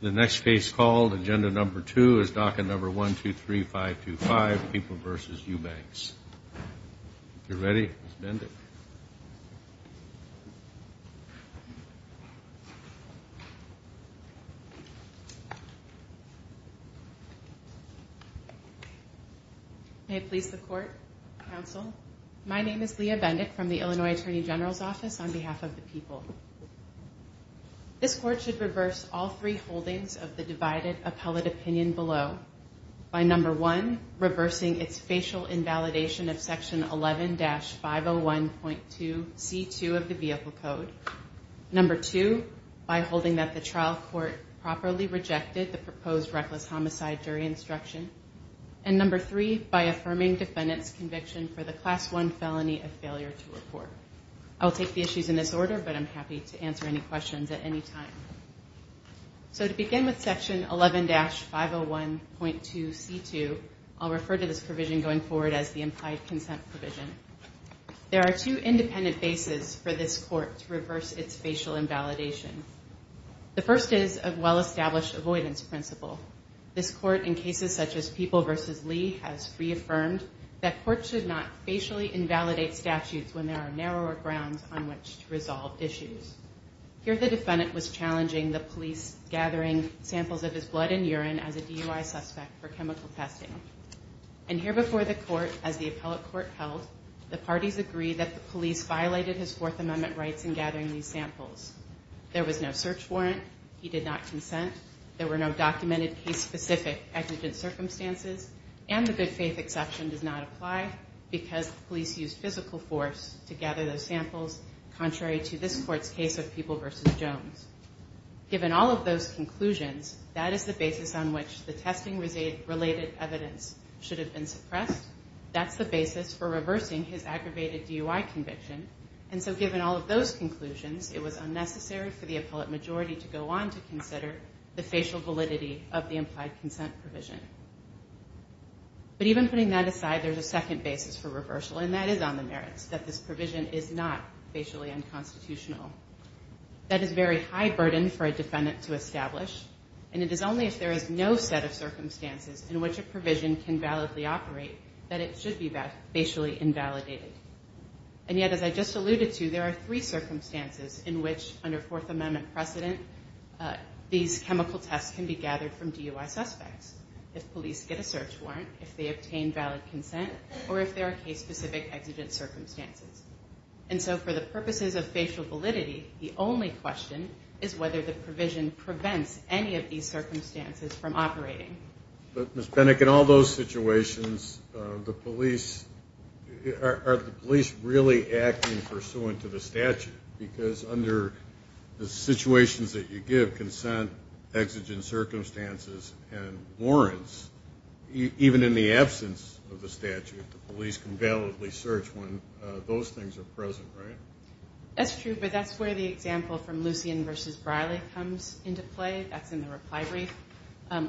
The next case called, agenda number two, is docket number 1-2-3-5-2-5, People v. Eubanks. If you're ready, Ms. Bendick. May it please the Court, Counsel. My name is Leah Bendick from the Illinois Attorney General's Office on behalf of the people. This Court should reverse all three holdings of the divided appellate opinion below. By number one, reversing its facial invalidation of section 11-501.2c2 of the Vehicle Code. Number two, by holding that the trial court properly rejected the proposed reckless homicide jury instruction. And number three, by affirming defendant's conviction for the class 1 felony of failure to report. I'll take the issues in this order, but I'm happy to answer any questions at any time. So to begin with section 11-501.2c2, I'll refer to this provision going forward as the implied consent provision. There are two independent bases for this Court to reverse its facial invalidation. The first is a well-established avoidance principle. This Court, in cases such as People v. Lee, has reaffirmed that courts should not facially invalidate statutes when there are narrower grounds on which to resolve issues. Here the defendant was challenging the police gathering samples of his blood and urine as a DUI suspect for chemical testing. And here before the Court, as the appellate court held, the parties agreed that the police violated his Fourth Amendment rights in gathering these samples. There was no search warrant. He did not consent. There were no documented case-specific exigent circumstances. And the good faith exception does not apply because the police used physical force to gather those samples, contrary to this Court's case of People v. Jones. Given all of those conclusions, that is the basis on which the testing-related evidence should have been suppressed. That's the basis for reversing his aggravated DUI conviction. And so given all of those conclusions, it was unnecessary for the appellate majority to go on to consider the facial validity of the implied consent provision. But even putting that aside, there's a second basis for reversal, and that is on the merits that this provision is not facially unconstitutional. That is a very high burden for a defendant to establish, and it is only if there is no set of circumstances in which a provision can validly operate that it should be facially invalidated. And yet, as I just alluded to, there are three circumstances in which, under Fourth Amendment precedent, these chemical tests can be gathered from DUI suspects. If police get a search warrant, if they obtain valid consent, or if there are case-specific exigent circumstances. And so for the purposes of facial validity, the only question is whether the provision prevents any of these circumstances from operating. But Ms. Benick, in all those situations, are the police really acting pursuant to the statute? Because under the situations that you give, consent, exigent circumstances, and warrants, even in the absence of the statute, the police can validly search when those things are present, right? That's true, but that's where the example from Lucien v. Briley comes into play. That's in the reply brief.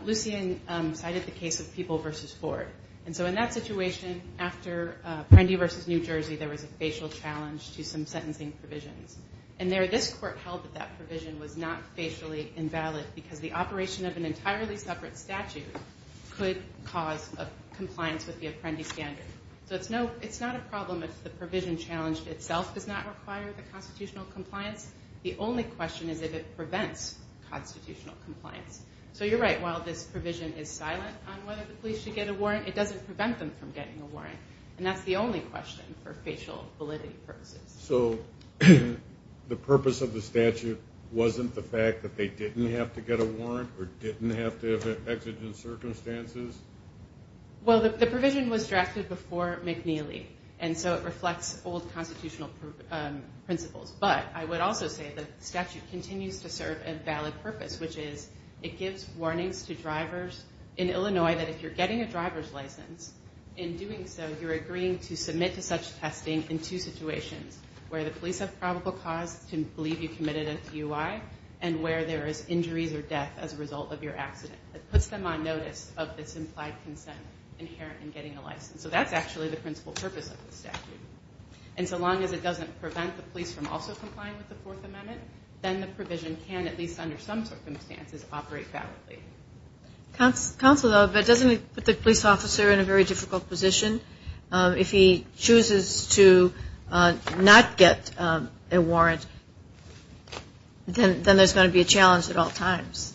Lucien cited the case of People v. Ford. And so in that situation, after Prendy v. New Jersey, there was a facial challenge to some sentencing provisions. And there, this court held that that provision was not facially invalid because the operation of an entirely separate statute could cause a compliance with the Apprendi standard. So it's not a problem if the provision challenged itself does not require the constitutional compliance. The only question is if it prevents constitutional compliance. So you're right, while this provision is silent on whether the police should get a warrant, it doesn't prevent them from getting a warrant. And that's the only question for facial validity purposes. So the purpose of the statute wasn't the fact that they didn't have to get a warrant or didn't have to have exigent circumstances? Well, the provision was drafted before McNeely, and so it reflects old constitutional principles. But I would also say the statute continues to serve a valid purpose, which is it gives warnings to drivers in Illinois that if you're getting a driver's license, in doing so you're agreeing to submit to such testing in two situations, where the police have probable cause to believe you committed a DUI and where there is injuries or death as a result of your accident. It puts them on notice of this implied consent inherent in getting a license. So that's actually the principal purpose of the statute. And so long as it doesn't prevent the police from also complying with the Fourth Amendment, then the provision can, at least under some circumstances, operate validly. Counselor, but doesn't it put the police officer in a very difficult position? If he chooses to not get a warrant, then there's going to be a challenge at all times.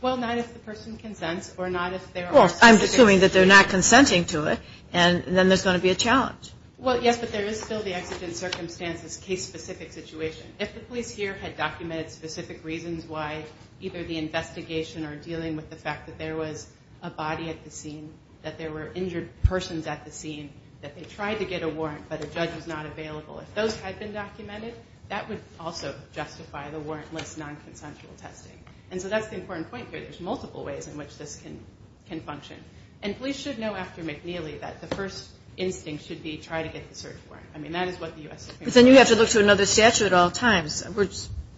Well, not if the person consents or not if they're on suspicion. Well, I'm assuming that they're not consenting to it, and then there's going to be a challenge. Well, yes, but there is still the exigent circumstances case-specific situation. If the police here had documented specific reasons why either the investigation or dealing with the fact that there was a body at the scene, that there were injured persons at the scene, that they tried to get a warrant but a judge was not available, if those had been documented, that would also justify the warrantless nonconsensual testing. And so that's the important point here. There's multiple ways in which this can function. And police should know after McNeely that the first instinct should be try to get the search warrant. I mean, that is what the U.S. Supreme Court says. But then you have to look to another statute at all times. We're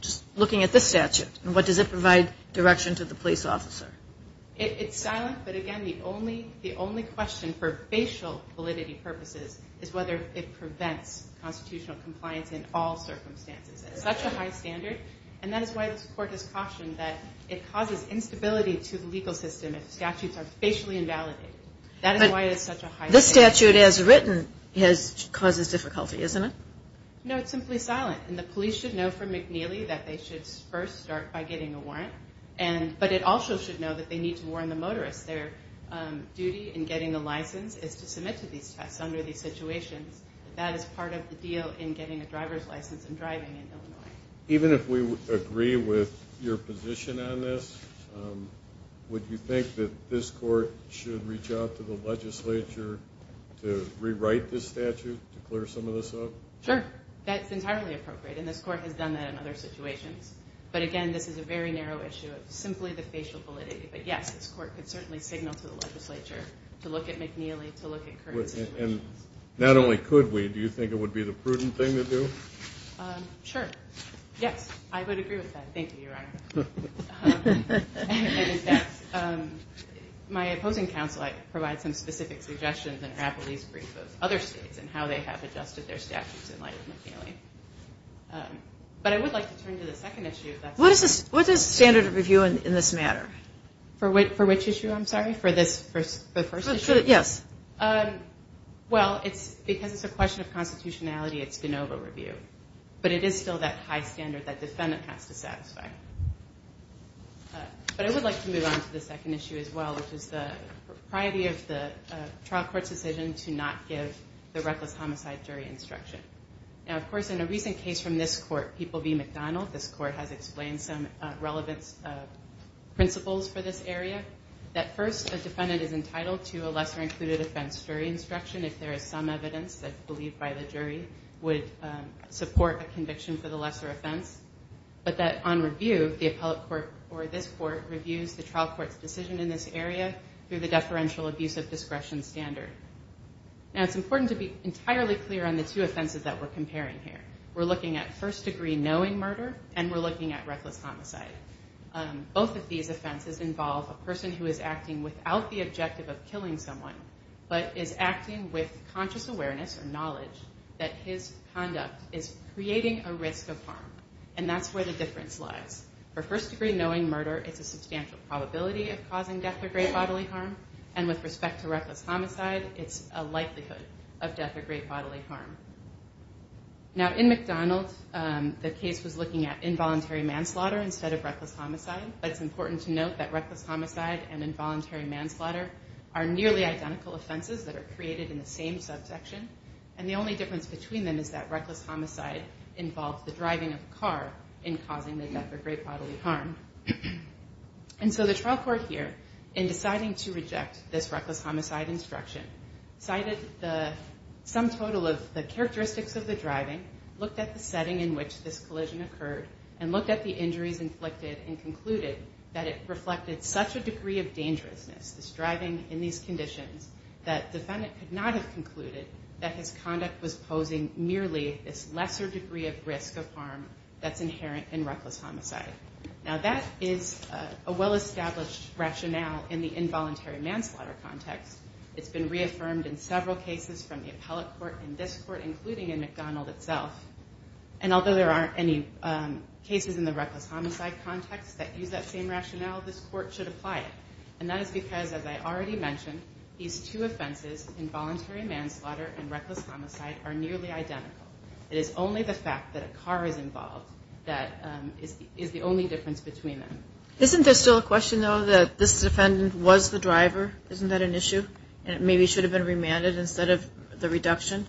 just looking at this statute. And what does it provide direction to the police officer? It's silent, but again, the only question for facial validity purposes is whether it prevents constitutional compliance in all circumstances. It's such a high standard, and that is why this Court has cautioned that it causes instability to the legal system if statutes are facially invalidated. That is why it is such a high standard. This statute as written causes difficulty, isn't it? No, it's simply silent. And the police should know from McNeely that they should first start by getting a warrant, but it also should know that they need to warrant the motorist. Their duty in getting a license is to submit to these tests under these situations. That is part of the deal in getting a driver's license and driving in Illinois. Even if we agree with your position on this, would you think that this Court should reach out to the legislature to rewrite this statute to clear some of this up? Sure. That's entirely appropriate, and this Court has done that in other situations. But again, this is a very narrow issue of simply the facial validity. But yes, this Court could certainly signal to the legislature to look at McNeely, to look at current situations. Not only could we, do you think it would be the prudent thing to do? Sure. Yes, I would agree with that. Thank you, Your Honor. And, in fact, my opposing counsel provides some specific suggestions in Rappeley's brief of other states and how they have adjusted their statutes in light of McNeely. But I would like to turn to the second issue. What is the standard of review in this matter? For which issue, I'm sorry? For the first issue? Yes. Well, because it's a question of constitutionality, it's de novo review. But it is still that high standard that defendant has to satisfy. But I would like to move on to the second issue as well, which is the propriety of the trial court's decision to not give the reckless homicide jury instruction. Now, of course, in a recent case from this court, People v. McDonald, this court has explained some relevant principles for this area. That, first, a defendant is entitled to a lesser-included offense jury instruction if there is some evidence that's believed by the jury would support a conviction for the lesser offense. But that, on review, the appellate court or this court reviews the trial court's decision in this area through the deferential abuse of discretion standard. Now, it's important to be entirely clear on the two offenses that we're comparing here. We're looking at first-degree knowing murder, and we're looking at reckless homicide. Both of these offenses involve a person who is acting without the objective of killing someone, but is acting with conscious awareness or knowledge that his conduct is creating a risk of harm. And that's where the difference lies. For first-degree knowing murder, it's a substantial probability of causing death or great bodily harm. And with respect to reckless homicide, it's a likelihood of death or great bodily harm. Now, in McDonald, the case was looking at involuntary manslaughter instead of reckless homicide, but it's important to note that reckless homicide and involuntary manslaughter are nearly identical offenses that are created in the same subsection, and the only difference between them is that reckless homicide involves the driving of a car in causing the death or great bodily harm. And so the trial court here, in deciding to reject this reckless homicide instruction, cited the sum total of the characteristics of the driving, looked at the setting in which this collision occurred, and looked at the injuries inflicted and concluded that it reflected such a degree of dangerousness, this driving in these conditions, that defendant could not have concluded that his conduct was posing merely this lesser degree of risk of harm that's inherent in reckless homicide. Now, that is a well-established rationale in the involuntary manslaughter context. It's been reaffirmed in several cases from the appellate court and this court, including in McDonald itself. And although there aren't any cases in the reckless homicide context that use that same rationale, this court should apply it. And that is because, as I already mentioned, these two offenses, involuntary manslaughter and reckless homicide, are nearly identical. It is only the fact that a car is involved that is the only difference between them. Isn't there still a question, though, that this defendant was the driver? Isn't that an issue? And maybe he should have been remanded instead of the reduction?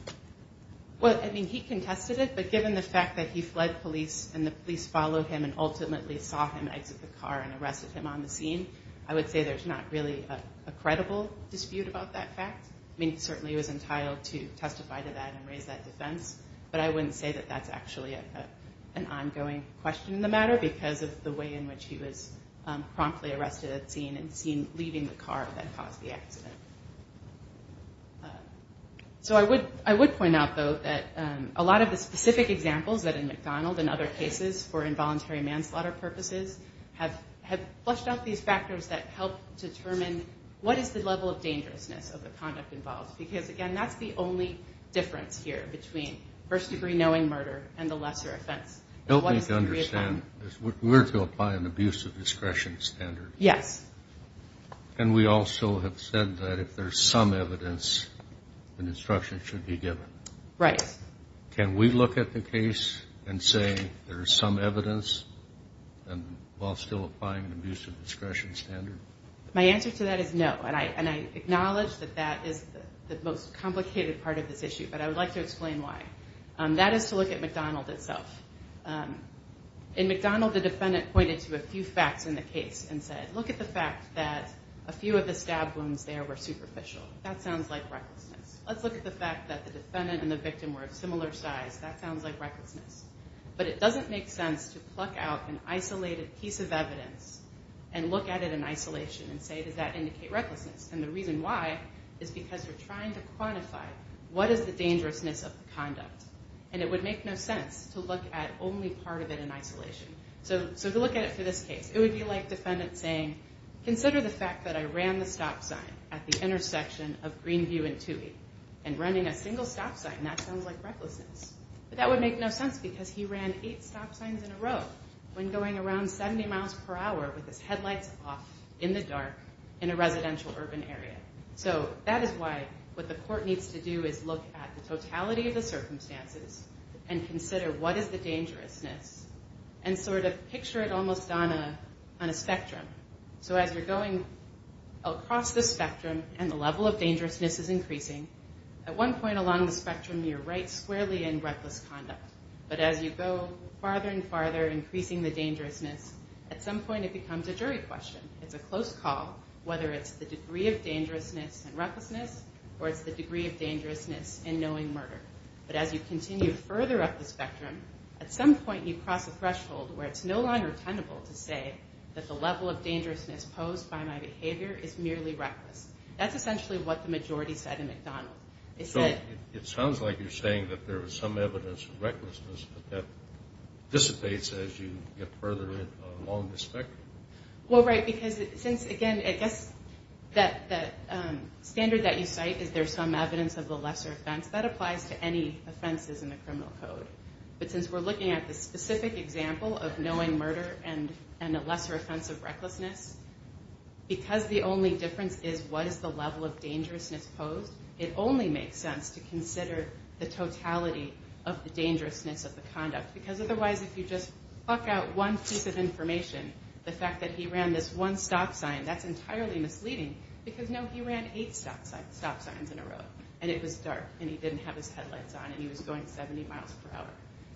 Well, I mean, he contested it. But given the fact that he fled police and the police followed him and ultimately saw him exit the car and arrested him on the scene, I would say there's not really a credible dispute about that fact. I mean, he certainly was entitled to testify to that and raise that defense. But I wouldn't say that that's actually an ongoing question in the matter because of the way in which he was promptly arrested at the scene and seen leaving the car that caused the accident. So I would point out, though, that a lot of the specific examples that in McDonald and other cases for involuntary manslaughter purposes have flushed out these factors that help determine what is the level of dangerousness of the conduct involved. Because, again, that's the only difference here between first-degree knowing murder and the lesser offense. Help me to understand. We're to apply an abuse of discretion standard. Yes. And we also have said that if there's some evidence, an instruction should be given. Right. Can we look at the case and say there's some evidence while still applying an abuse of discretion standard? My answer to that is no. And I acknowledge that that is the most complicated part of this issue, but I would like to explain why. That is to look at McDonald itself. In McDonald, the defendant pointed to a few facts in the case and said, look at the fact that a few of the stab wounds there were superficial. That sounds like recklessness. Let's look at the fact that the defendant and the victim were of similar size. That sounds like recklessness. But it doesn't make sense to pluck out an isolated piece of evidence and look at it in isolation and say, does that indicate recklessness? And the reason why is because you're trying to quantify what is the dangerousness of the conduct. And it would make no sense to look at only part of it in isolation. So to look at it for this case, it would be like the defendant saying, consider the fact that I ran the stop sign at the intersection of Greenview and Toohey and running a single stop sign, that sounds like recklessness. But that would make no sense because he ran eight stop signs in a row when going around 70 miles per hour with his headlights off in the dark in a residential urban area. So that is why what the court needs to do is look at the totality of the circumstances and consider what is the dangerousness and sort of picture it almost on a spectrum. So as you're going across the spectrum and the level of dangerousness is increasing, at one point along the spectrum you're right squarely in reckless conduct. But as you go farther and farther, increasing the dangerousness, at some point it becomes a jury question. It's a close call whether it's the degree of dangerousness and recklessness or it's the degree of dangerousness in knowing murder. But as you continue further up the spectrum, at some point you cross a threshold where it's no longer tenable to say that the level of dangerousness posed by my behavior is merely reckless. That's essentially what the majority said in McDonald. So it sounds like you're saying that there is some evidence of recklessness, but that dissipates as you get further along the spectrum. Well, right, because since, again, I guess that standard that you cite is there's some evidence of the lesser offense, that applies to any offenses in the criminal code. But since we're looking at the specific example of knowing murder and a lesser offense of recklessness, because the only difference is what is the level of dangerousness posed, it only makes sense to consider the totality of the dangerousness of the conduct. Because otherwise if you just pluck out one piece of information, the fact that he ran this one stop sign, that's entirely misleading because, no, he ran eight stop signs in a row, and it was dark, and he didn't have his headlights on, and he was going 70 miles per hour.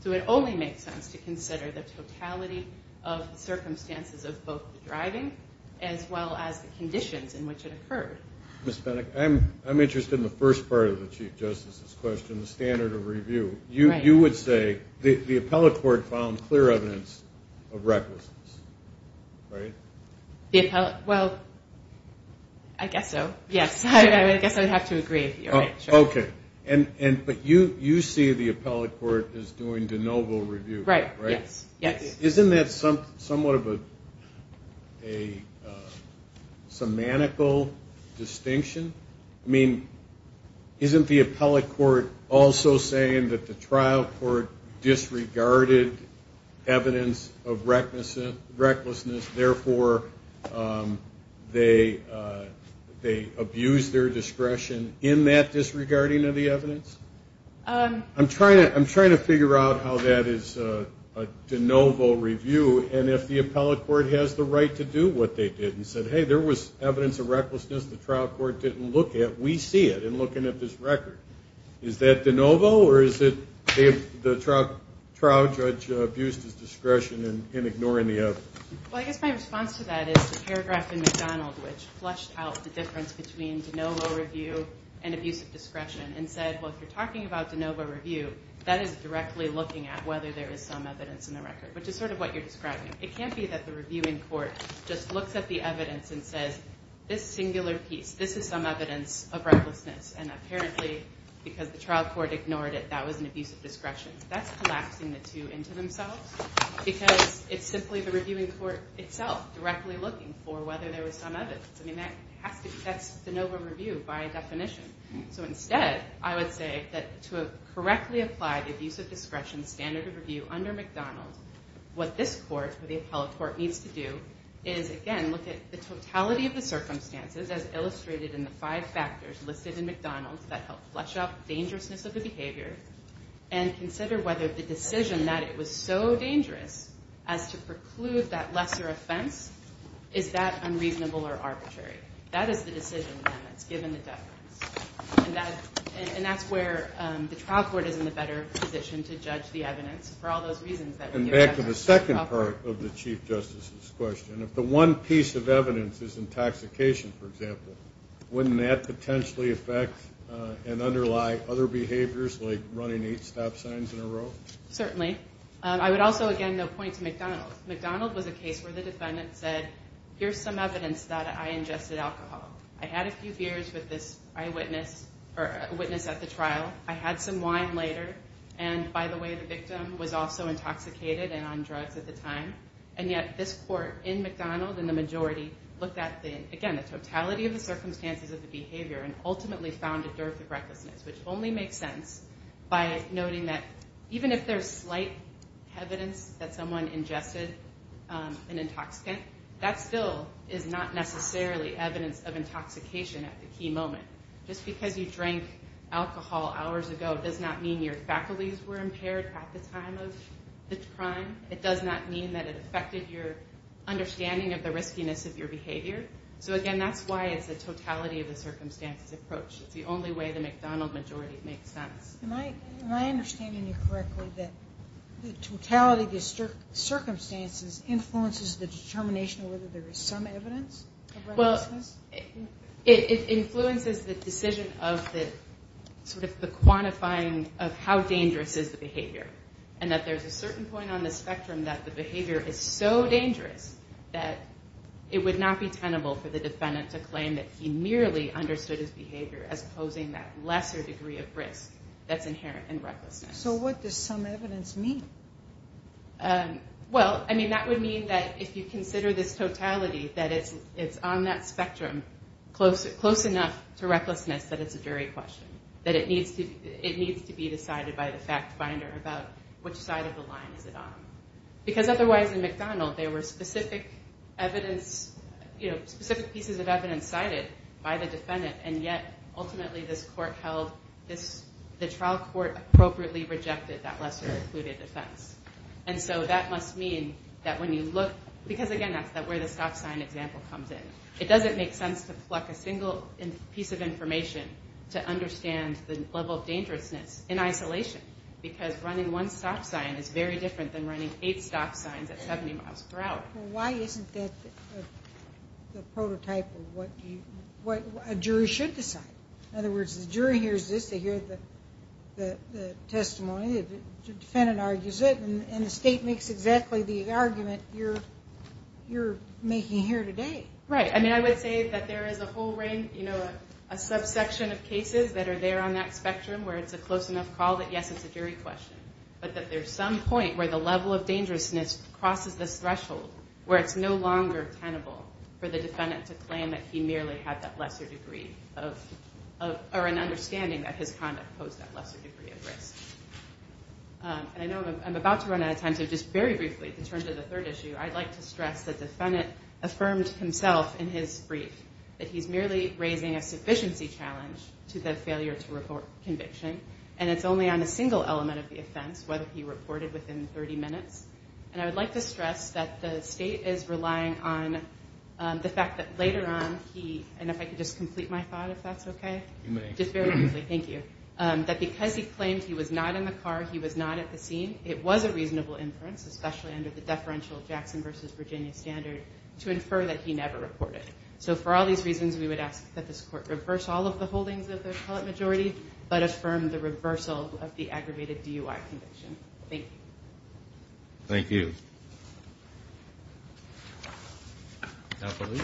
So it only makes sense to consider the totality of the circumstances of both the driving as well as the conditions in which it occurred. Ms. Bennett, I'm interested in the first part of the Chief Justice's question, the standard of review. You would say the appellate court found clear evidence of recklessness, right? Well, I guess so, yes. I guess I would have to agree. Okay. But you see the appellate court as doing de novo review, right? Right, yes. Isn't that somewhat of a semantical distinction? I mean, isn't the appellate court also saying that the trial court disregarded evidence of recklessness, therefore they abused their discretion in that disregarding of the evidence? I'm trying to figure out how that is a de novo review, and if the appellate court has the right to do what they did and said, hey, there was evidence of recklessness the trial court didn't look at, we see it in looking at this record. Is that de novo or is it the trial judge abused his discretion in ignoring the evidence? Well, I guess my response to that is the paragraph in McDonald which flushed out the difference between de novo review and abuse of discretion and said, well, if you're talking about de novo review, that is directly looking at whether there is some evidence in the record, which is sort of what you're describing. It can't be that the reviewing court just looks at the evidence and says, this singular piece, this is some evidence of recklessness, and apparently because the trial court ignored it, that was an abuse of discretion. That's collapsing the two into themselves because it's simply the reviewing court itself directly looking for whether there was some evidence. I mean, that's de novo review by definition. So instead, I would say that to correctly apply the abuse of discretion standard of review under McDonald, what this court, the appellate court, needs to do is, again, look at the totality of the circumstances as illustrated in the five factors listed in McDonald that help flush out the dangerousness of the behavior and consider whether the decision that it was so dangerous as to preclude that lesser offense, is that unreasonable or arbitrary? That is the decision then that's given the deference. And that's where the trial court is in a better position to judge the evidence for all those reasons. And back to the second part of the Chief Justice's question. If the one piece of evidence is intoxication, for example, wouldn't that potentially affect and underlie other behaviors like running eight stop signs in a row? Certainly. I would also, again, point to McDonald. McDonald was a case where the defendant said, here's some evidence that I ingested alcohol. I had a few beers with this eyewitness at the trial. I had some wine later. And, by the way, the victim was also intoxicated and on drugs at the time. And yet this court in McDonald and the majority looked at, again, the totality of the circumstances of the behavior and ultimately found a dearth of recklessness, which only makes sense by noting that even if there's slight evidence that someone ingested an intoxicant, that still is not necessarily evidence of intoxication at the key moment. Just because you drank alcohol hours ago does not mean your faculties were impaired at the time of the crime. It does not mean that it affected your understanding of the riskiness of your behavior. So, again, that's why it's a totality of the circumstances approach. It's the only way the McDonald majority makes sense. Am I understanding you correctly that the totality of the circumstances influences the determination of whether there is some evidence of recklessness? Well, it influences the decision of the quantifying of how dangerous is the behavior and that there's a certain point on the spectrum that the behavior is so dangerous that it would not be tenable for the defendant to claim that he merely understood his behavior as posing that lesser degree of risk that's inherent in recklessness. So what does some evidence mean? Well, I mean, that would mean that if you consider this totality, that it's on that spectrum close enough to recklessness that it's a jury question, that it needs to be decided by the fact finder about which side of the line is it on. Because otherwise in McDonald there were specific pieces of evidence cited by the defendant and yet ultimately the trial court appropriately rejected that lesser-included defense. And so that must mean that when you look, because, again, that's where the stop sign example comes in, it doesn't make sense to pluck a single piece of information to understand the level of dangerousness in isolation because running one stop sign is very different than running eight stop signs at 70 miles per hour. Well, why isn't that the prototype of what a jury should decide? In other words, the jury hears this, they hear the testimony, the defendant argues it, and the state makes exactly the argument you're making here today. Right. I mean, I would say that there is a whole range, you know, a subsection of cases that are there on that spectrum where it's a close enough call that, yes, it's a jury question, but that there's some point where the level of dangerousness crosses this threshold where it's no longer tenable for the defendant to claim that he merely had that lesser degree of, or an understanding that his conduct posed that lesser degree of risk. And I know I'm about to run out of time, so just very briefly to turn to the third issue, I'd like to stress the defendant affirmed himself in his brief that he's merely raising a sufficiency challenge to the failure to report conviction, and it's only on a single element of the offense, whether he reported within 30 minutes. And I would like to stress that the state is relying on the fact that later on he, and if I could just complete my thought, if that's okay? You may. Just very briefly, thank you. That because he claimed he was not in the car, he was not at the scene, it was a reasonable inference, especially under the deferential Jackson v. Virginia standard, to infer that he never reported. So for all these reasons, we would ask that this court reverse all of the holdings of the appellate majority, but affirm the reversal of the aggravated DUI conviction. Thank you. Thank you.